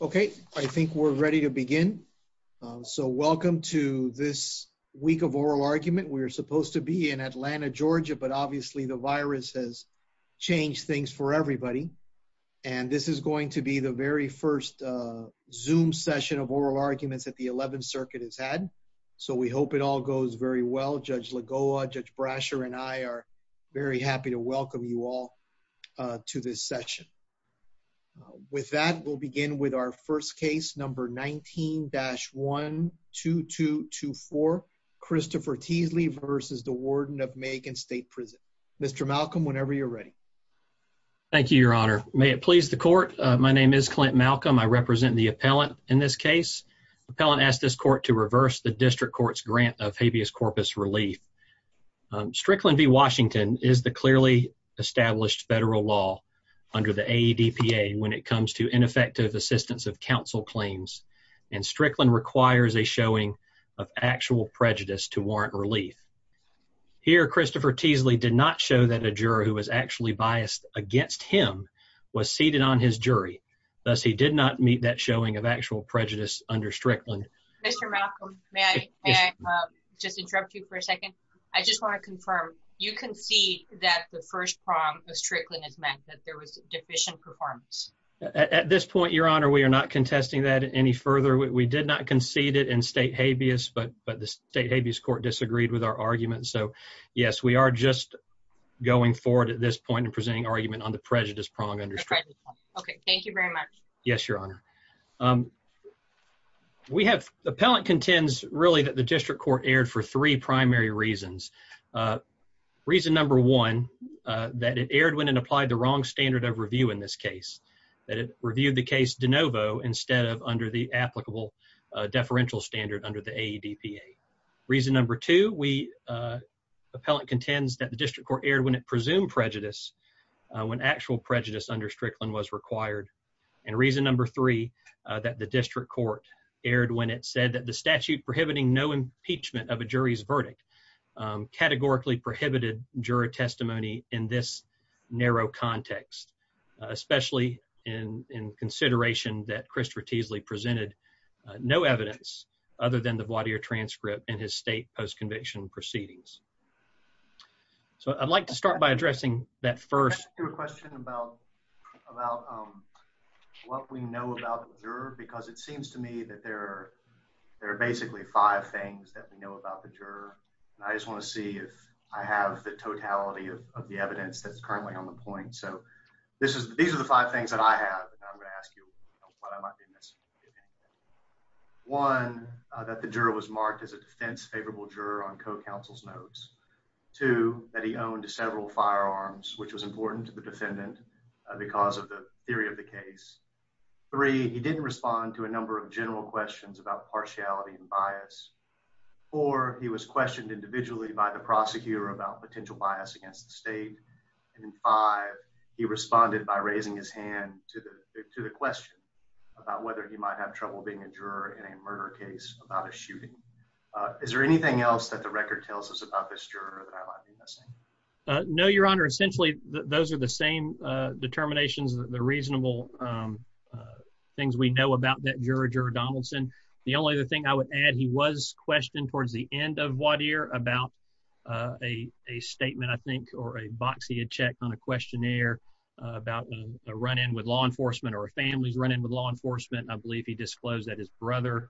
Okay, I think we're ready to begin. So welcome to this week of oral argument. We are supposed to be in Atlanta, Georgia, but obviously the virus has changed things for everybody, and this is going to be the very first Zoom session of oral arguments that the 11th Circuit has had, so we hope it all goes very well. Judge Lagoa, Judge Brasher, and I are very happy to welcome you all to this session with our first case, number 19-12224, Christopher Teasley versus the Warden of Macon State Prison. Mr. Malcolm, whenever you're ready. Thank you, Your Honor. May it please the court, my name is Clint Malcolm. I represent the appellant in this case. Appellant asked this court to reverse the district court's grant of habeas corpus relief. Strickland v. Washington is the clearly established federal law under the AEDPA when it comes to ineffective assistance of counsel claims, and Strickland requires a showing of actual prejudice to warrant relief. Here, Christopher Teasley did not show that a juror who was actually biased against him was seated on his jury, thus he did not meet that showing of actual prejudice under Strickland. Mr. Malcolm, may I just interrupt you for a second? I just want to confirm, you concede that the first prong of Strickland has meant that there was deficient performance? At this point, Your Honor, we are not contesting that any further. We did not concede it in state habeas, but the state habeas court disagreed with our argument, so yes, we are just going forward at this point in presenting argument on the prejudice prong under Strickland. Okay, thank you very much. Yes, Your Honor. We have, the appellant contends really that the district court erred for three reasons. One, that it erred when it applied the wrong standard of review in this case, that it reviewed the case de novo instead of under the applicable deferential standard under the AEDPA. Reason number two, we, appellant contends that the district court erred when it presumed prejudice, when actual prejudice under Strickland was required. And reason number three, that the district court erred when it said that the statute prohibiting no impeachment of a jury's narrow context, especially in, in consideration that Christopher Teasley presented no evidence other than the voir dire transcript in his state post-conviction proceedings. So, I'd like to start by addressing that first question about, about what we know about the juror, because it seems to me that there, there are basically five things that we know about the juror, and I just want to see if I have the totality of the evidence that's currently on the point. So, this is, these are the five things that I have, and I'm going to ask you what I might be missing, if anything. One, that the juror was marked as a defense favorable juror on co-counsel's notes. Two, that he owned several firearms, which was important to the defendant because of the theory of the case. Three, he didn't respond to a number of general questions about partiality and bias. Four, he was questioned individually by the prosecutor about potential bias against the state. And five, he responded by raising his hand to the, to the question about whether he might have trouble being a juror in a murder case about a shooting. Is there anything else that the record tells us about this juror that I might be missing? No, Your Honor. Essentially, those are the same determinations, the reasonable things we know about that juror, Juror Donaldson. The only other thing I would add, he was questioned towards the end of voir dire about a statement, I think, or a box he had checked on a questionnaire about a run-in with law enforcement or a family's run-in with law enforcement. I believe he disclosed that his brother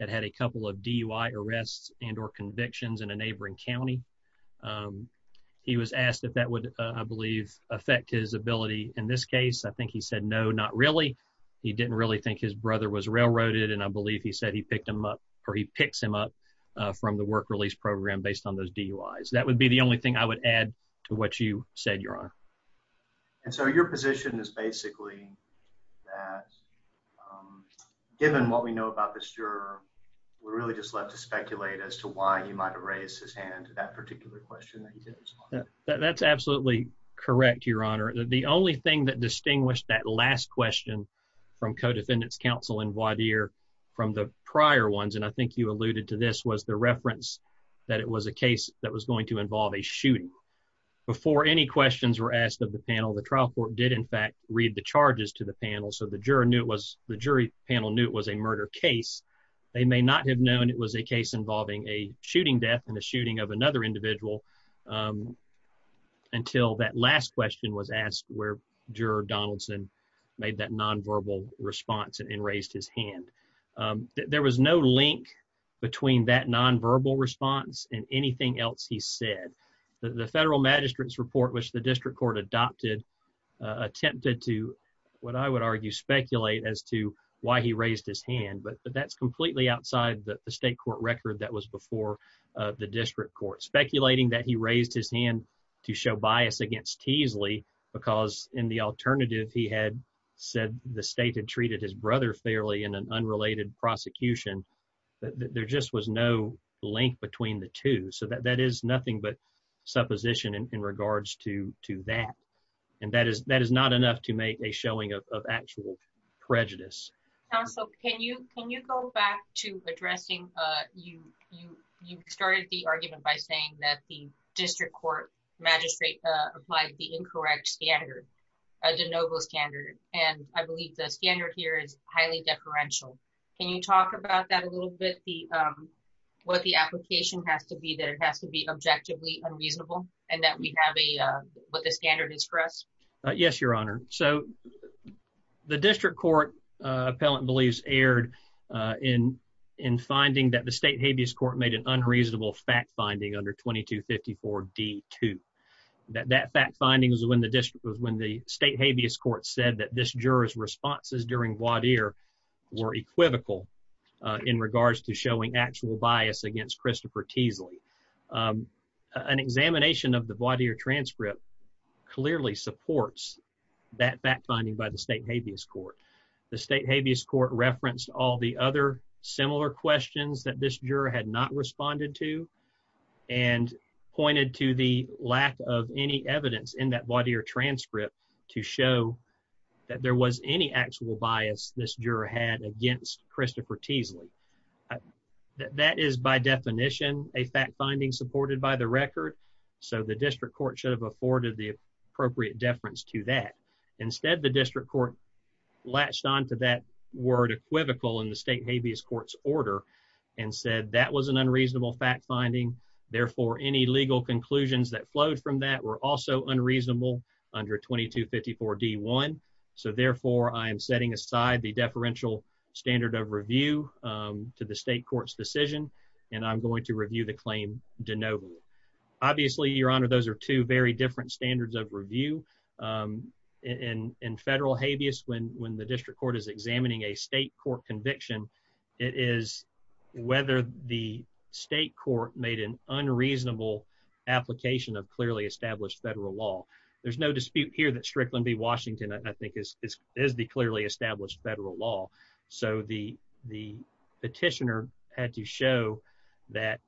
had had a couple of DUI arrests and or convictions in a neighboring county. He was asked if that would, I believe, affect his ability in this case. I think he said no, not really. He didn't really think his brother was railroaded, and I believe he said he picked him up, or he picks him up from the work release program based on those DUIs. That would be the only thing I would add to what you said, Your Honor. And so your position is basically that given what we know about this juror, we're really just left to speculate as to why he might have raised his hand to that particular question that he did respond to. That's absolutely correct, Your Honor. The only thing that distinguished that last question from co-defendants counsel in prior ones, and I think you alluded to this, was the reference that it was a case that was going to involve a shooting. Before any questions were asked of the panel, the trial court did in fact read the charges to the panel, so the juror knew it was, the jury panel knew it was a murder case. They may not have known it was a case involving a shooting death and a shooting of another individual until that last question was asked where Juror Donaldson made that there was no link between that nonverbal response and anything else he said. The federal magistrate's report, which the district court adopted, attempted to, what I would argue, speculate as to why he raised his hand, but that's completely outside the state court record that was before the district court. Speculating that he raised his hand to show bias against Teasley because in the alternative he had said the state had treated his execution, that there just was no link between the two, so that that is nothing but supposition in regards to that, and that is not enough to make a showing of actual prejudice. Counsel, can you go back to addressing, you started the argument by saying that the district court magistrate applied the incorrect standard, a de novo standard, and I believe the standard here is what the application has to be, that it has to be objectively unreasonable, and that we have what the standard is for us. Yes, Your Honor, so the district court appellant believes erred in finding that the state habeas court made an unreasonable fact-finding under 2254 D2. That fact-finding was when the state habeas court said that this juror's responses during voir dire were equivocal in regards to showing actual bias against Christopher Teasley. An examination of the voir dire transcript clearly supports that fact-finding by the state habeas court. The state habeas court referenced all the other similar questions that this juror had not responded to and pointed to the lack of any evidence in that there was any actual bias this juror had against Christopher Teasley. That is by definition a fact-finding supported by the record, so the district court should have afforded the appropriate deference to that. Instead, the district court latched on to that word equivocal in the state habeas court's order and said that was an unreasonable fact-finding, therefore any legal conclusions that flowed from that were also unreasonable under 2254 D1, so therefore I am setting aside the deferential standard of review to the state court's decision and I'm going to review the claim de novo. Obviously, Your Honor, those are two very different standards of review. In federal habeas, when the district court is examining a state court conviction, it is whether the state court made an unreasonable application of clearly established federal law. There's no dispute here that Strickland v. Washington, I think, is the clearly established federal law, so the petitioner had to show that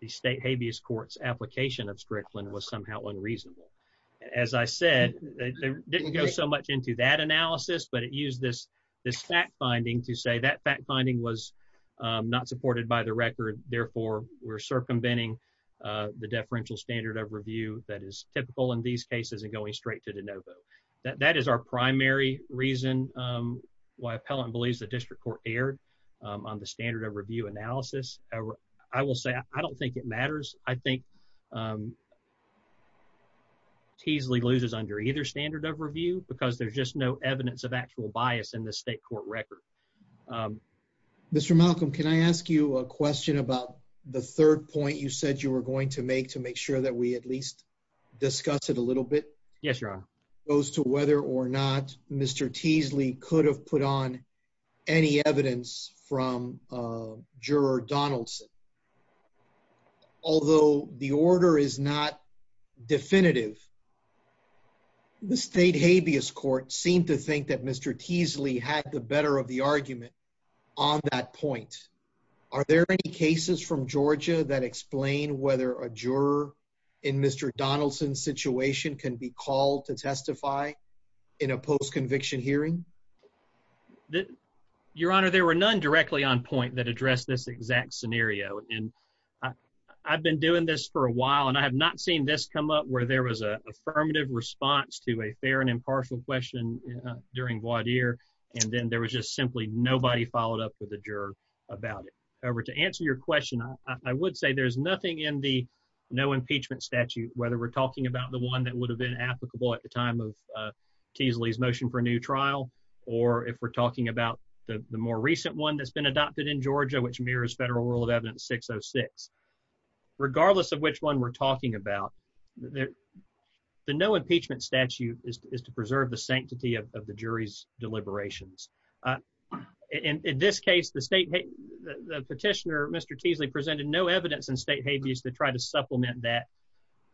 the state habeas court's application of Strickland was somehow unreasonable. As I said, it didn't go so much into that analysis, but it used this fact-finding to say that fact-finding was not supported by the record, therefore we're circumventing the deferential standard of review that is typical in these cases and going straight to de novo. That is our primary reason why appellant believes the district court erred on the standard of review analysis. I will say I don't think it matters. I think Teasley loses under either standard of review because there's just no evidence of actual bias in the state court record. Mr. Malcolm, can I ask you a question about the third point you said you were going to make to make sure that we at least discuss it a little bit? Yes, Your Honor. It goes to whether or not Mr. Teasley could have put on any evidence from Juror Donaldson. Although the order is not definitive, the state habeas court seemed to think that Mr. Teasley had the better of the argument on that point. Are there any cases from Georgia that explain whether a juror in Mr Donaldson's situation can be called to testify in a post conviction hearing? Your Honor, there were none directly on point that address this exact scenario, and I've been doing this for a while, and I have not seen this come up where there was a affirmative response to a fair and impartial question during voir dire, and then there was just simply nobody followed up with the juror about it. However, to answer your question, I would say there's nothing in the no impeachment statute, whether we're talking about the one that would have been applicable at the time of Teasley's motion for new trial or if we're talking about the more recent one that's been adopted in Georgia, which mirrors federal rule of evidence 606. Regardless of which one we're talking about there, the no impeachment statute is to preserve the sanctity of the jury's deliberations. Uh, in this case, the state, the petitioner, Mr Teasley presented no evidence in state habeas to try to supplement that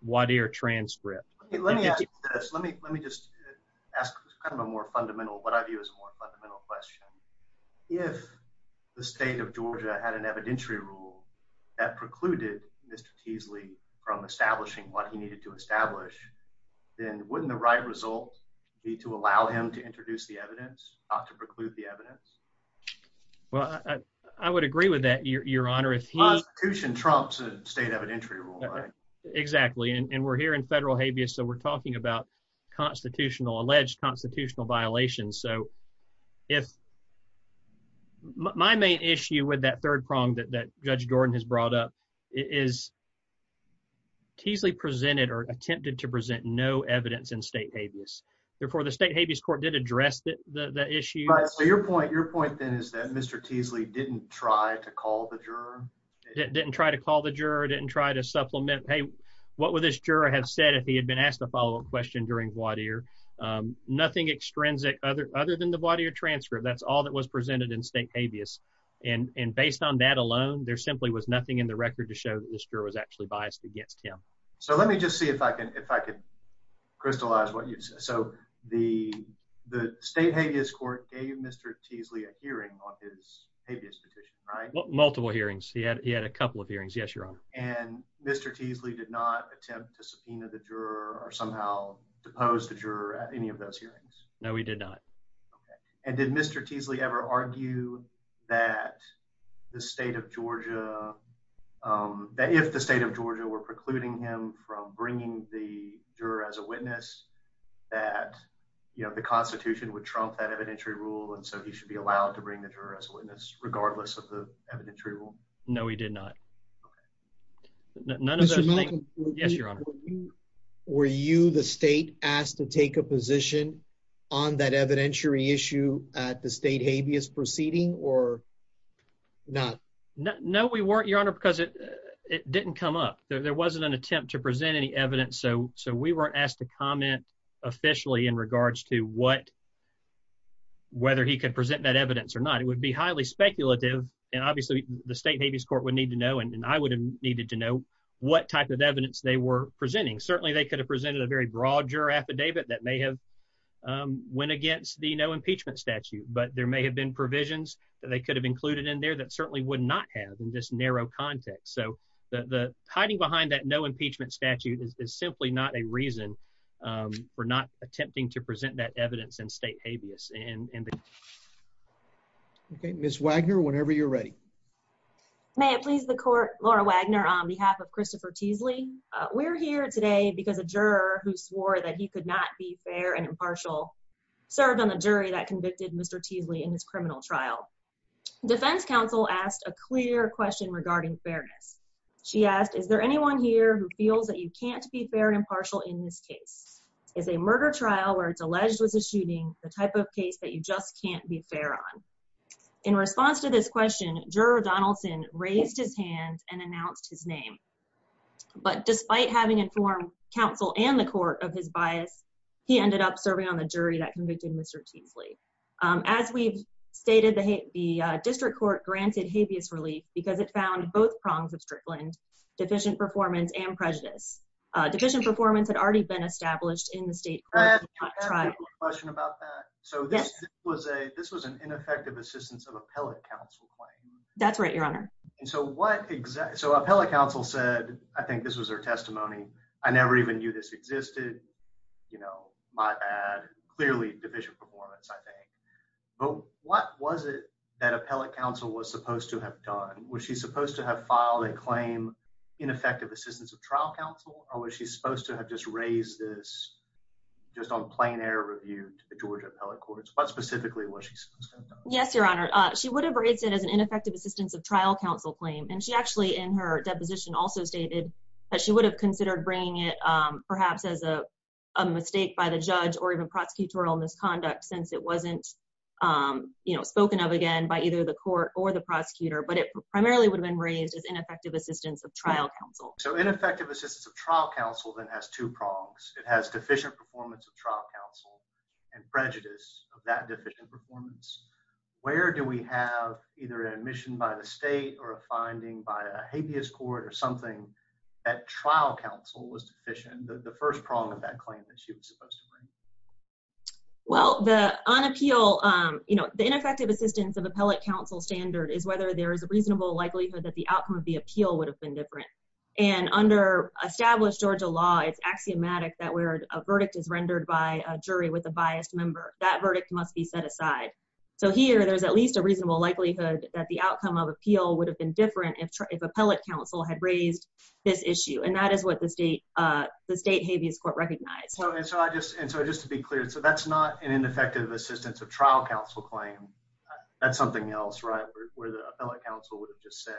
voir dire transcript. Let me ask this. Let me let me just ask kind of a more fundamental what I view is more fundamental question. If the state of Georgia had an evidentiary rule that precluded Mr Teasley from establishing what he needed to establish, then wouldn't the right result be to allow him to introduce the evidence not to preclude the evidence? Well, I would agree with that, Your Honor. If he Trump's state evidentiary rule. Exactly. And we're here in federal habeas. So we're talking about constitutional alleged constitutional violations. So if my main issue with that third prong that Judge Gordon has brought up is Teasley presented or attempted to present no evidence in state habeas before the state habeas court did address the issue. Your point. Your point, then, is that Mr Teasley didn't try to call the juror didn't try to call the juror didn't try to supplement. Hey, what would this juror have said if he had been asked the follow up question during what ear? Um, nothing extrinsic other other than the body of transfer. That's all that was presented in state habeas. And based on that alone, there simply was nothing in the record to show that this juror was actually biased against him. So let me just see if I could if I could crystallize what you so the state habeas court gave Mr Teasley a hearing on his habeas petition, right? Multiple hearings. He had. He had a couple of hearings. Yes, Your Honor. And Mr Teasley did not attempt to subpoena the juror or somehow depose the juror at any of those hearings. No, we did not. And did Mr Teasley ever argue that the state of Georgia, um, that if the state of Georgia were precluding him from bringing the juror as a witness that, you know, the Constitution would trump that evidentiary rule. And so he should be allowed to bring the juror as a moment. Yes, Your Honor. Were you the state asked to take a position on that evidentiary issue at the state habeas proceeding or not? No, we weren't, Your Honor, because it didn't come up. There wasn't an attempt to present any evidence. So so we were asked to comment officially in regards to what whether he could present that evidence or not, it would be highly speculative. And obviously, the state habeas court would need to know, and I would have type of evidence they were presenting. Certainly, they could have presented a very broad juror affidavit that may have, um, went against the no impeachment statute. But there may have been provisions that they could have included in there that certainly would not have in this narrow context. So the hiding behind that no impeachment statute is simply not a reason, um, for not attempting to present that evidence in state habeas. And okay, Miss Wagner, whenever you're ready, may it please the court. Laura Wagner on behalf of Christopher Teasley. We're here today because a juror who swore that he could not be fair and impartial served on the jury that convicted Mr Teasley in his criminal trial. Defense counsel asked a clear question regarding fairness. She asked, Is there anyone here who feels that you can't be fair and impartial in this case is a murder trial where it's alleged was a shooting the type of case that you just can't be fair on. In response to this question, juror Donaldson raised his hands and announced his name. But despite having informed counsel and the court of his bias, he ended up serving on the jury that convicted Mr Teasley. As we've stated, the district court granted habeas relief because it found both prongs of Strickland, deficient performance and prejudice. Deficient performance had already been established in the state. I had a question about that. So this was a this was an ineffective assistance of appellate counsel claim. That's right, Your Honor. So what exactly? So appellate counsel said, I think this was her testimony. I never even knew this existed. You know, my bad. Clearly deficient performance, I think. But what was it that appellate counsel was supposed to have done? Was she supposed to have filed a claim ineffective assistance of trial counsel? Or was she supposed to have just raised this just on plain air review to the Georgia appellate courts? But specifically, what she says? Yes, Your Honor. She would have raised it as an ineffective assistance of trial counsel claim, and she actually in her deposition also stated that she would have considered bringing it perhaps as a mistake by the judge or even prosecutorial misconduct since it wasn't, um, you know, spoken of again by either the court or the prosecutor. But it primarily would have been raised as ineffective assistance of trial counsel. So ineffective assistance of and has two prongs. It has deficient performance of trial counsel and prejudice of that deficient performance. Where do we have either admission by the state or a finding by a habeas court or something that trial counsel was deficient? The first prong of that claim that she was supposed to bring? Well, the unappeal, you know, the ineffective assistance of appellate counsel standard is whether there is a reasonable likelihood that the outcome of the appeal would have been different. And under established Georgia law, it's axiomatic that where a verdict is rendered by a jury with a biased member, that verdict must be set aside. So here there's at least a reasonable likelihood that the outcome of appeal would have been different. If appellate counsel had raised this issue, and that is what the state, uh, the state habeas court recognized. So I just and so just to be clear, so that's not an ineffective assistance of trial counsel claim. That's something else, right? Where the appellate counsel would have just said,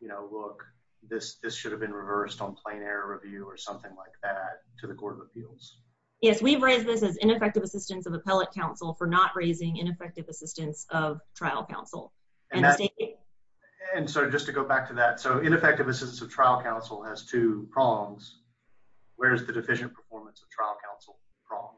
you know, look, this this should have been reversed on plain air review or something like that to the Court of Appeals. Yes, we've raised this as ineffective assistance of appellate counsel for not raising ineffective assistance of trial counsel. And so just to go back to that, so ineffective assistance of trial counsel has two prongs. Where is the deficient performance of trial counsel prong?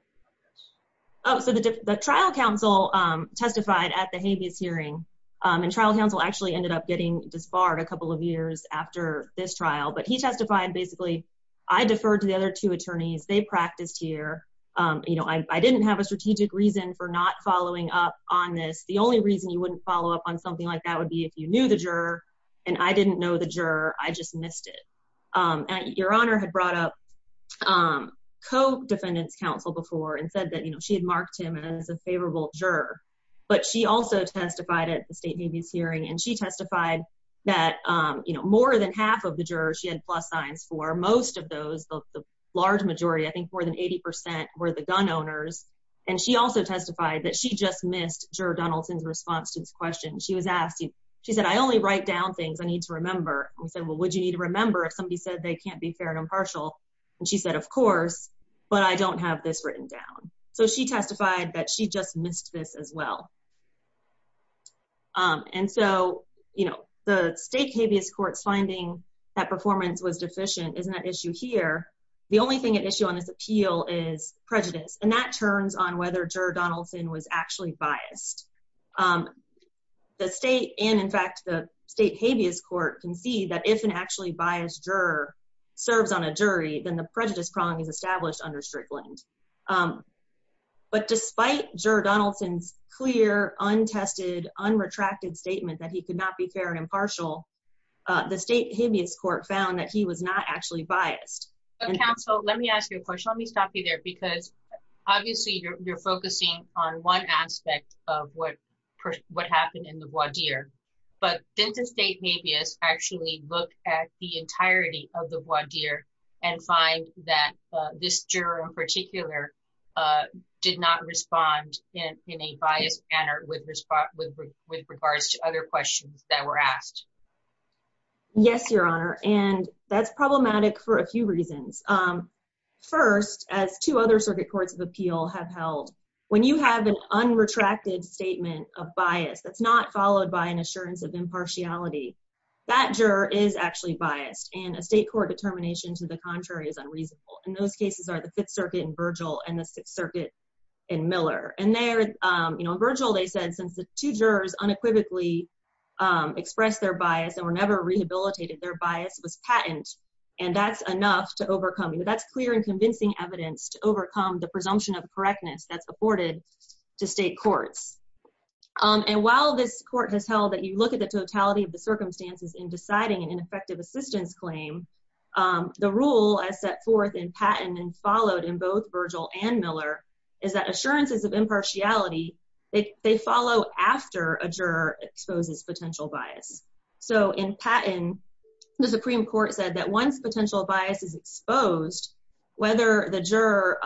Oh, so the trial counsel testified at the habeas hearing on trial counsel actually ended up getting disbarred a couple of years after this trial. But he testified. Basically, I deferred to the other two attorneys. They practiced here. You know, I didn't have a strategic reason for not following up on this. The only reason you wouldn't follow up on something like that would be if you knew the juror, and I didn't know the juror. I just said that, you know, she had marked him as a favorable juror. But she also testified at the state habeas hearing, and she testified that, you know, more than half of the jurors she had plus signs for. Most of those, the large majority, I think more than 80% were the gun owners. And she also testified that she just missed juror Donaldson's response to this question. She was asked, she said, I only write down things I need to remember. We said, well, would you need to remember if somebody said they can't be fair and So she testified that she just missed this as well. And so, you know, the state habeas courts finding that performance was deficient isn't an issue here. The only thing at issue on this appeal is prejudice, and that turns on whether juror Donaldson was actually biased. The state and in fact, the state habeas court can see that if an actually biased juror serves on a jury, then the prejudice prong is established under But despite juror Donaldson's clear, untested, unretracted statement that he could not be fair and impartial, the state habeas court found that he was not actually biased. Counsel, let me ask you a question. Let me stop you there, because obviously you're focusing on one aspect of what what happened in the one year, but then to state habeas actually look at the did not respond in a biased manner with with with regards to other questions that were asked. Yes, Your Honor. And that's problematic for a few reasons. First, as to other circuit courts of appeal have held when you have an unretracted statement of bias that's not followed by an assurance of impartiality. That juror is actually biased and a state court determination to the contrary is In those cases are the Fifth Circuit and Virgil and the Sixth Circuit and Miller and they're, you know, Virgil, they said, since the two jurors unequivocally express their bias and were never rehabilitated, their bias was patent. And that's enough to overcome you. That's clear and convincing evidence to overcome the presumption of correctness that's afforded to state courts. And while this court has held that you look at the totality of the circumstances in deciding an ineffective assistance claim. The rule I set forth in patent and followed in both Virgil and Miller is that assurances of impartiality, they follow after a juror exposes potential bias. So in patent, the Supreme Court said that once potential bias is exposed, whether the juror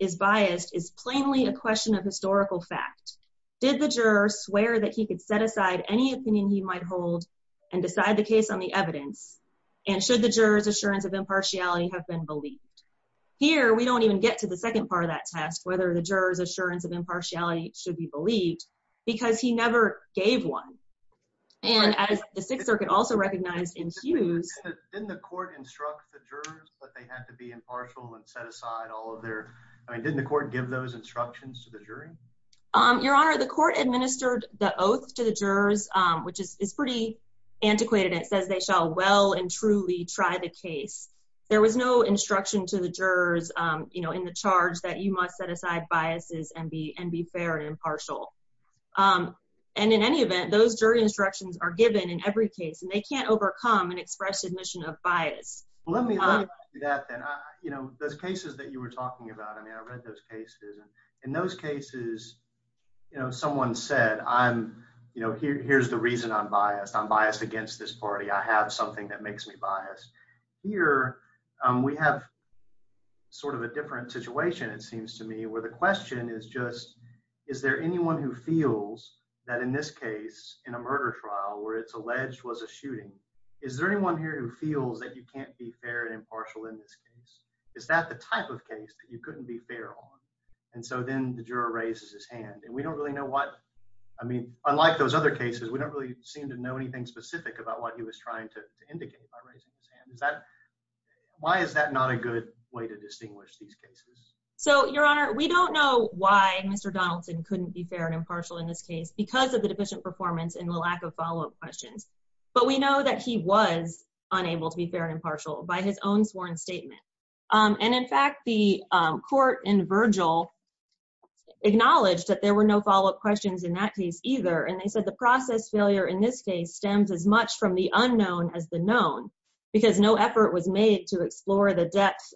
is biased is plainly a question of historical fact. Did the juror swear that he could set aside any opinion he might hold and decide the case on the evidence and should the jurors assurance of impartiality have been believed? Here, we don't even get to the second part of that test, whether the jurors assurance of impartiality should be believed because he never gave one. And as the Sixth Circuit also recognized in Hughes, didn't the court instruct the jurors that they had to be impartial and set aside all of their I mean, didn't the court give those instructions to the jury? Your Honor, the court administered the it's pretty antiquated. It says they shall well and truly try the case. There was no instruction to the jurors, you know, in the charge that you must set aside biases and be and be fair and impartial. Um, and in any event, those jury instructions are given in every case, and they can't overcome and express admission of bias. Let me do that, then, you know, those cases that you were talking about. I mean, I read those cases and in those cases, you know, someone said, I'm you know, here's the reason I'm biased. I'm biased against this party. I have something that makes me biased here. We have sort of a different situation, it seems to me, where the question is just Is there anyone who feels that in this case in a murder trial where it's alleged was a shooting? Is there anyone here who feels that you can't be fair and impartial in this case? Is that the type of case that you couldn't be fair on? And so then the juror raises his hand, and we don't really know what I mean. Unlike those other cases, we don't really seem to know anything specific about what he was trying to indicate by raising his hand. Is that why is that not a good way to distinguish these cases? So, Your Honor, we don't know why Mr Donaldson couldn't be fair and impartial in this case because of the deficient performance and the lack of follow up questions. But we know that he was unable to be fair and impartial by his own sworn statement. And in fact, the court in Virgil acknowledged that there were no follow up questions in that case either. And they said the process failure in this case stems as much from the unknown as the known, because no effort was made to explore the depth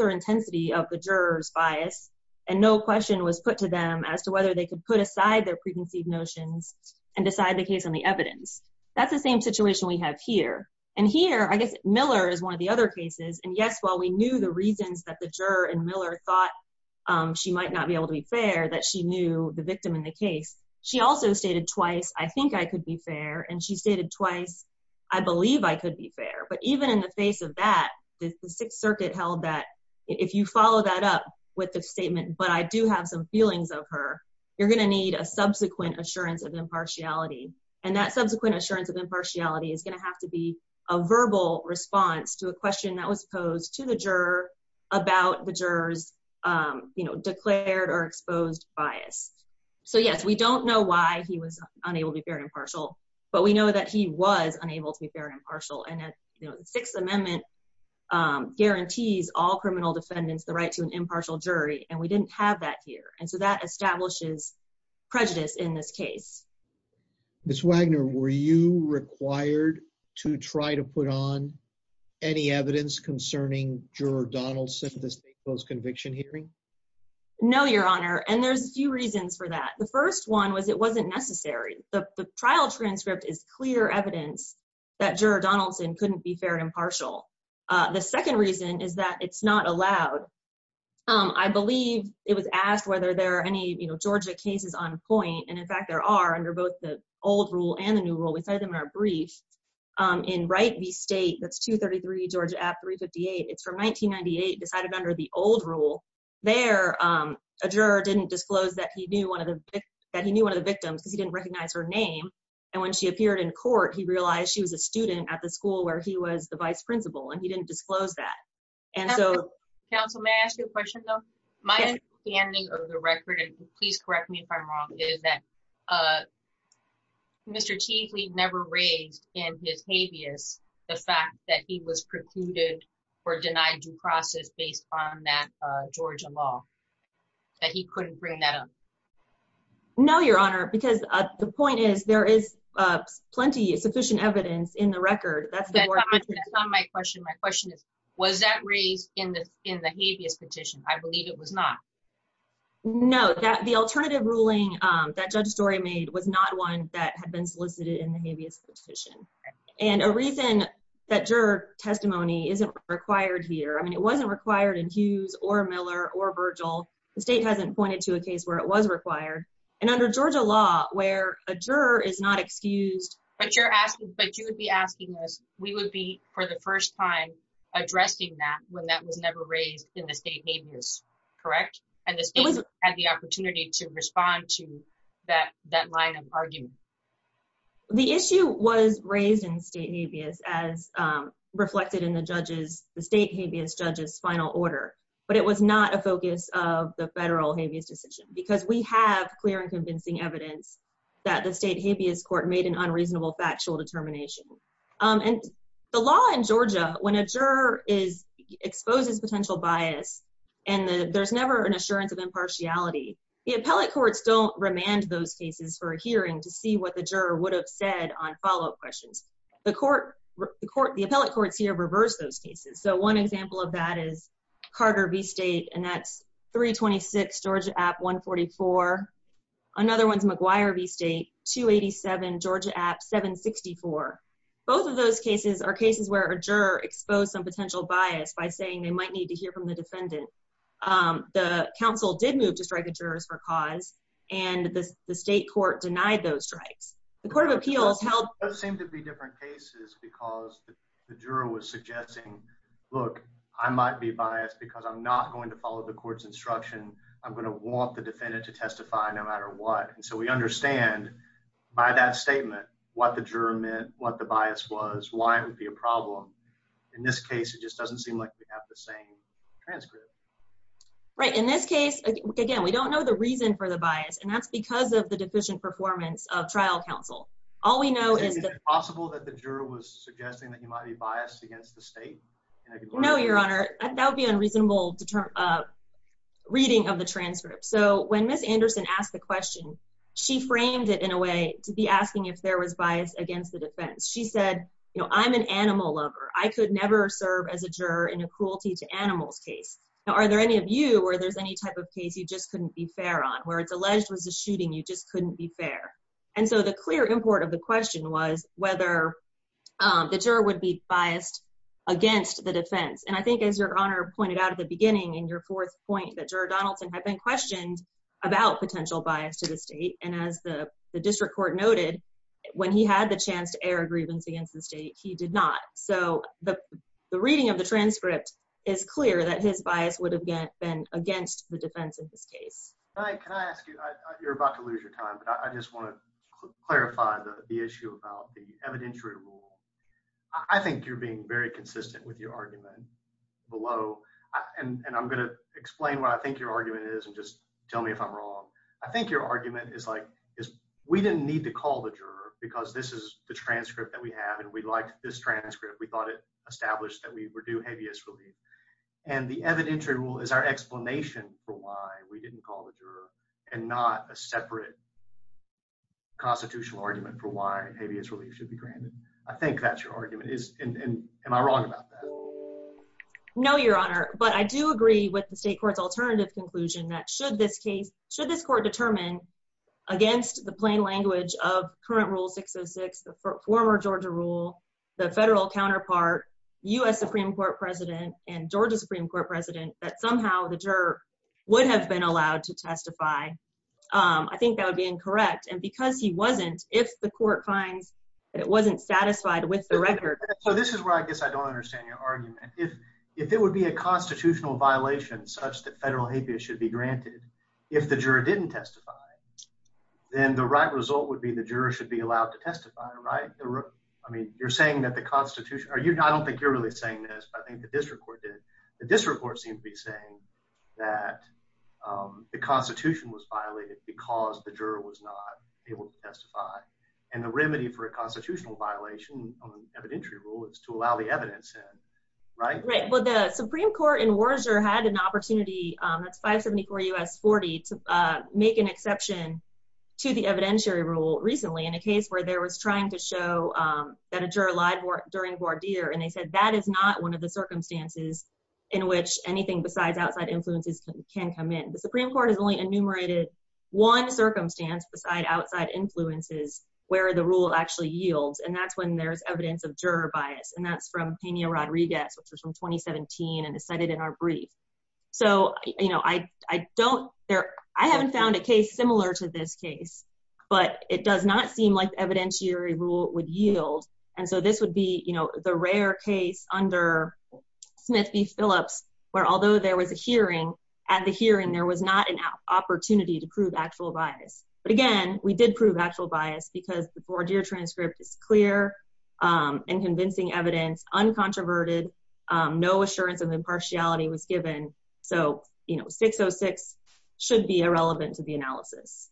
or intensity of the juror's bias, and no question was put to them as to whether they could put aside their preconceived notions and decide the case on the evidence. That's the same situation we have here. And here, I guess Miller is one of the other cases. And yes, while we knew the reasons that the juror and Miller thought she might not be able to be fair, that she knew the victim in the case, she also stated twice, I think I could be fair. And she stated twice, I believe I could be fair. But even in the face of that, the Sixth Circuit held that if you follow that up with the statement, but I do have some feelings of her, you're gonna need a subsequent assurance of impartiality. And that subsequent assurance of impartiality is gonna have to be a verbal response to a question that was posed to the juror about the juror's declared or exposed bias. So yes, we don't know why he was unable to be fair and impartial, but we know that he was unable to be fair and impartial. And the Sixth Amendment guarantees all criminal defendants the right to an impartial jury, and we didn't have that here. And so that establishes prejudice in this case. Ms. Wagner, were you required to try to put on any evidence concerning Juror Donaldson, this post conviction hearing? No, Your Honor, and there's a few reasons for that. The first one was it wasn't necessary. The trial transcript is clear evidence that Juror Donaldson couldn't be fair and impartial. The second reason is that it's not allowed. I believe it was asked whether there are any Georgia cases on point, and in fact there are, under both the old rule and the new rule. We cited them in our brief in Wright v. State, that's 233 Georgia App 358. It's from 1998, decided under the old rule. There, a juror didn't disclose that he knew one of the victims, because he didn't recognize her name. And when she appeared in court, he realized she was a student at the school where he was the vice principal, and he didn't disclose that. And so... Counsel, may I ask you a question though? My understanding of the record, and please correct me if I'm wrong, is that Mr. Teasley never raised in his habeas the fact that he was precluded or denied due process based on that Georgia law, that he couldn't bring that up. No, Your Honor, because the point is, there is plenty of sufficient evidence in the record. That's... That's not my question. My question is, was that raised in the habeas petition? I believe it was not. No, that... The alternative ruling that Judge Dorey made was not one that had been solicited in the habeas petition. And a reason that juror testimony isn't required here... I mean, it wasn't required in Hughes or Miller or Virgil. The state hasn't pointed to a case where it was required. And under Georgia law, where a juror is not excused... But you're asking... But you would be asking us, we would be, for the first time, addressing that when that was never raised in the state habeas, correct? And the state had the opportunity to respond to that line of argument. The issue was raised in state habeas as reflected in the judge's... The state habeas judge's final order, but it was not a focus of the federal habeas decision, because we have clear and convincing evidence that the state habeas court made an unreasonable factual determination. And the law in Georgia, when a juror is... Exposes potential bias, and there's never an assurance of impartiality. The appellate courts don't remand those cases for a hearing to see what the juror would have said on follow up questions. The court... The appellate courts here reverse those cases. So one example of that is Carter v. State, and that's 326, Georgia App 144. Another one's McGuire v. State, 287, Georgia App 764. Both of those cases are cases where a juror exposed some potential bias by saying they might need to hear from the defendant. The council did move to strike a jurors for cause, and the state court denied those strikes. The court of appeals held... Those seem to be different cases because the juror was suggesting, look, I might be biased because I'm not going to follow the court's instruction. I'm gonna want the defendant to testify no matter what. And so we understand by that statement what the juror meant, what the bias was, why it would be a problem. In this case, it just doesn't seem like we have the same transcript. Right. In this case, again, we don't know the reason for the bias, and that's because of the deficient performance of trial counsel. All we know is that... Is it possible that the juror was suggesting that he might be biased against the state? No, Your Honor. That would be unreasonable reading of the transcript. So when Ms. Anderson asked the question, she framed it in a way to be asking if there was bias against the defense. She said, I'm an animal lover. I could never serve as a juror in a cruelty to animals case. Now, are there any of you where there's any type of case you just couldn't be fair on, where it's alleged was a shooting, you just couldn't be fair? And so the clear import of the question was whether the juror would be biased against the defense. And I think, as Your Honor pointed out at the beginning in your fourth point, that juror Donaldson had been questioned about potential bias to the state, and as the district court noted, when he had the chance to air a grievance against the state, he did not. So the reading of the transcript is clear that his bias would have been against the defense of this case. Can I ask you... You're about to lose your time, but I just wanna clarify the issue about the evidentiary rule. I think you're being very consistent with your argument below, and I'm gonna explain what I think your argument is, and just tell me if I'm wrong. I think your argument is like, is we didn't need to call the juror because this is the transcript that we have, and we liked this transcript. We thought it established that we were due habeas relief. And the evidentiary rule is our explanation for why we didn't call the juror, and not a separate constitutional argument for why habeas relief should be granted. I think that's your argument. Am I wrong about that? No, Your Honor, but I do agree with the state court's alternative conclusion that should this court determine against the plain language of current rule 606, the former Georgia rule, the federal counterpart, U.S. Supreme Court President, and Georgia Supreme Court President, that somehow the juror would have been allowed to testify. I think that would be incorrect. And because he wasn't, if the court finds that it wasn't satisfied with the record... So this is where I guess I don't understand your argument. If it would be a constitutional violation such that federal habeas should be granted if the juror didn't testify, then the right result would be the juror should be allowed to testify, right? You're saying that the Constitution... I don't think you're really saying this, but I think the district court did. The district court seemed to be saying that the Constitution was violated because the juror was not able to testify. And the remedy for a constitutional violation on the evidentiary rule is to allow the evidence in, right? Right. But the Supreme Court in Worcester had an opportunity, that's 574 U.S. 40, to make an exception to the evidentiary rule recently in a case where there was trying to show that a juror lied during voir dire, and they said that is not one of the circumstances in which anything besides outside influences can come in. The Supreme Court has only enumerated one circumstance beside outside influences where the rule actually yields, and that's when there's evidence of juror bias, and that's from Peña Rodriguez, which was from 2017, and is cited in our brief. So I don't... I haven't found a case similar to this case, but it does not seem like the evidentiary rule would yield. And so this would be the rare case under Smith v. Phillips, where although there was a hearing, at the hearing there was not an opportunity to prove actual bias. But again, we did prove actual bias, because the voir dire transcript is clear and convincing evidence, uncontroverted, no assurance of impartiality was given. So 606 should be irrelevant to the analysis.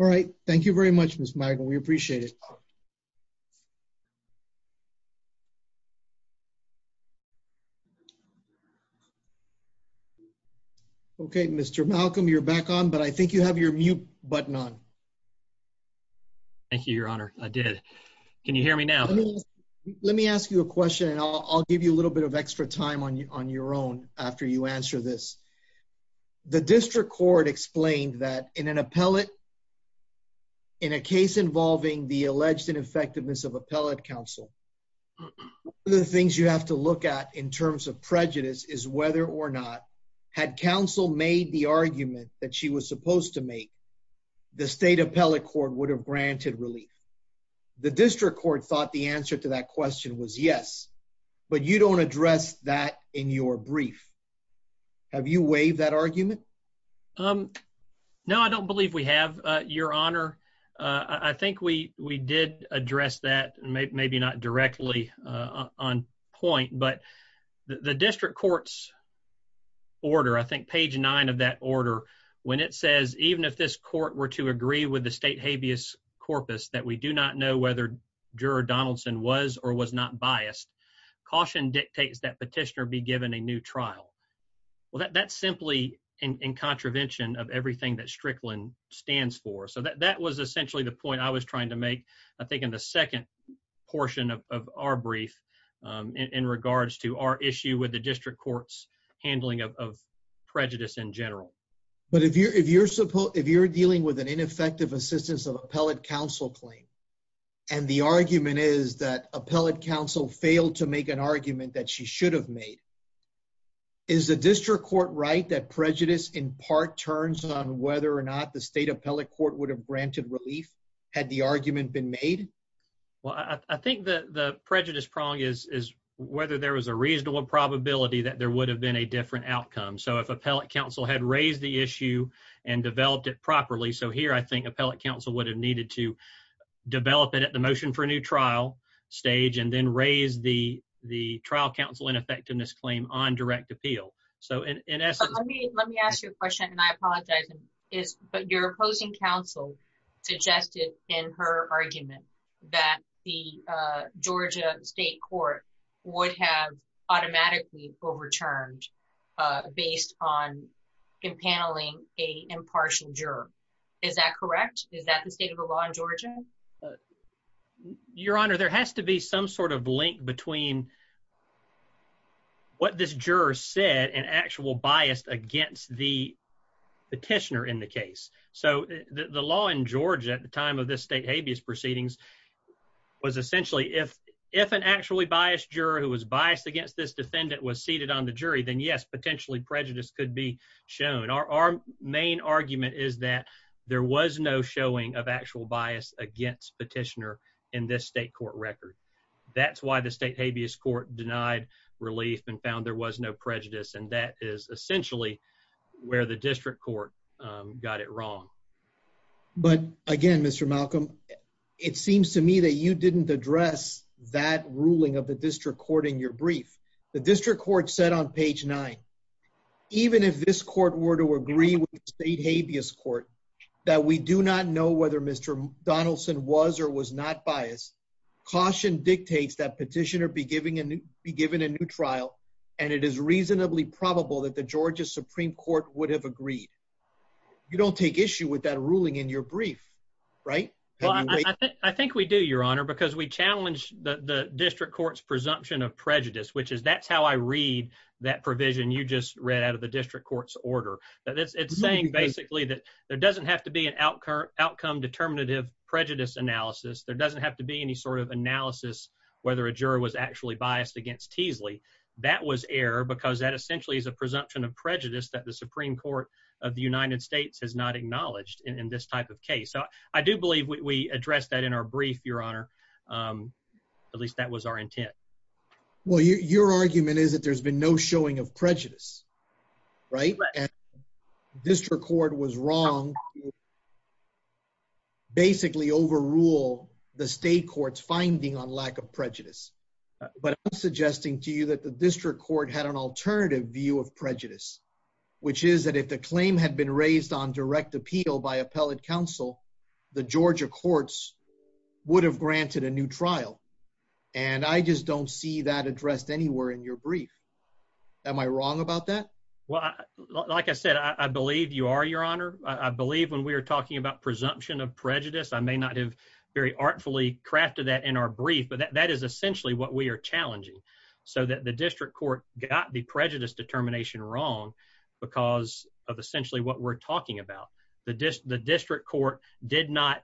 Alright. Thank you very much, Ms. Magel. We appreciate it. Thank you. Okay, Mr. Malcolm, you're back on, but I think you have your mute button on. Thank you, Your Honor. I did. Can you hear me now? Let me ask you a question, and I'll give you a little bit of extra time on your own after you answer this. The District Court explained that in an appellate... In a case involving the alleged ineffectiveness of appellate counsel, the things you have to look at in terms of prejudice is whether or not had counsel made the argument that she was supposed to make, the State Appellate Court would have granted relief. The District Court thought the answer to that question was yes, but you don't address that in your brief. Have you waived that argument? No, I don't believe we have, Your Honor. I think we did address that, maybe not directly on point, but the District Court's order, I think page nine of that order, when it says, even if this court were to agree with the State Habeas Corpus, that we do not know whether Juror Donaldson was or was not biased, caution dictates that petitioner be given a new trial. Well, that's simply in contravention of everything that Strickland stands for. So that was essentially the point I was trying to make, I think, in the second portion of our brief in regards to our issue with the District Court's handling of prejudice in general. But if you're dealing with an ineffective assistance of appellate counsel claim, and the argument is that appellate counsel failed to make an argument that she should have made, is the District Court right that prejudice in part turns on whether or not the State Appellate Court would have granted relief had the argument been made? Well, I think the prejudice prong is whether there was a reasonable probability that there would have been a different outcome. So if appellate counsel had raised the issue and developed it properly, so here I think appellate counsel would have needed to develop it at the motion for a new trial stage and then raise the trial counsel ineffectiveness claim on direct appeal. So in essence... Let me ask you a question and I apologize, but your opposing counsel suggested in her argument that the Georgia State Court would have automatically overturned based on impaneling a impartial juror. Is that correct? Is that the state of the law? Your Honor, there has to be some sort of link between what this juror said and actual bias against the petitioner in the case. So the law in Georgia at the time of this state habeas proceedings was essentially, if an actually biased juror who was biased against this defendant was seated on the jury, then yes, potentially prejudice could be shown. Our main argument is that there was no showing of actual bias against petitioner in this state court record. That's why the state habeas court denied relief and found there was no prejudice, and that is essentially where the district court got it wrong. But again, Mr. Malcolm, it seems to me that you didn't address that ruling of the district court in your brief. The district court said on page nine, even if this court were to agree with the state habeas court that we do not know whether Mr. Donaldson was or was not biased, caution dictates that petitioner be given a new trial, and it is reasonably probable that the Georgia Supreme Court would have agreed. You don't take issue with that ruling in your brief, right? I think we do, Your Honor, because we challenge the district court's presumption of prejudice, which is that's how I read that provision you just read out of the district court's order. It's saying basically that there doesn't have to be an outcome determinative prejudice analysis. There doesn't have to be any sort of analysis whether a juror was actually biased against Teasley. That was error because that essentially is a presumption of prejudice that the Supreme Court of the United States has not acknowledged in this type of case. So I do believe we addressed that in our brief, Your Honor. Um, at least that was our intent. Well, your argument is that there's been no showing of prejudice, right? District court was wrong. Basically overrule the state court's finding on lack of prejudice. But I'm suggesting to you that the district court had an alternative view of prejudice, which is that if the claim had been raised on direct appeal by granted a new trial, and I just don't see that addressed anywhere in your brief. Am I wrong about that? Well, like I said, I believe you are, Your Honor. I believe when we're talking about presumption of prejudice, I may not have very artfully crafted that in our brief. But that is essentially what we're challenging so that the district court got the prejudice determination wrong because of essentially what we're talking about. The district court did not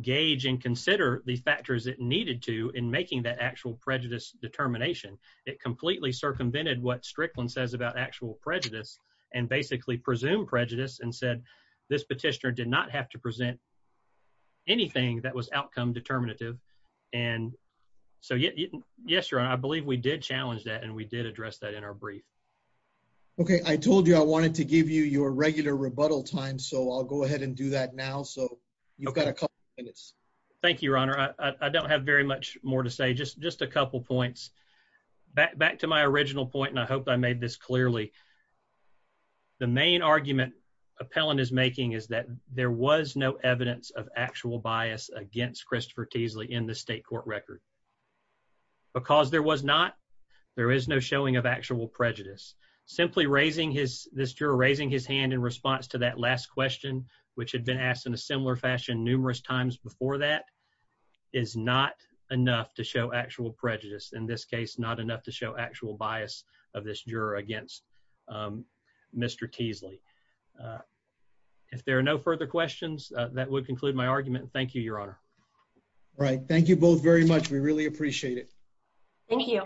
gauge and consider the factors it needed to in making that actual prejudice determination. It completely circumvented what Strickland says about actual prejudice and basically presumed prejudice and said this petitioner did not have to present anything that was outcome determinative. And so, yes, Your Honor, I believe we did challenge that, and we did address that in our brief. Okay, I told you I regular rebuttal time, so I'll go ahead and do that now. So you've got a couple minutes. Thank you, Your Honor. I don't have very much more to say. Just just a couple points back back to my original point, and I hope I made this clearly. The main argument appellant is making is that there was no evidence of actual bias against Christopher Teasley in the state court record because there was not. There is no showing of actual prejudice. Simply raising his this juror raising his hand in response to that last question, which had been asked in a similar fashion numerous times before that is not enough to show actual prejudice. In this case, not enough to show actual bias of this juror against, um, Mr Teasley. Uh, if there are no further questions that would conclude my argument. Thank you, Your Honor. Right. Thank you both very much. We really appreciate it. Thank you.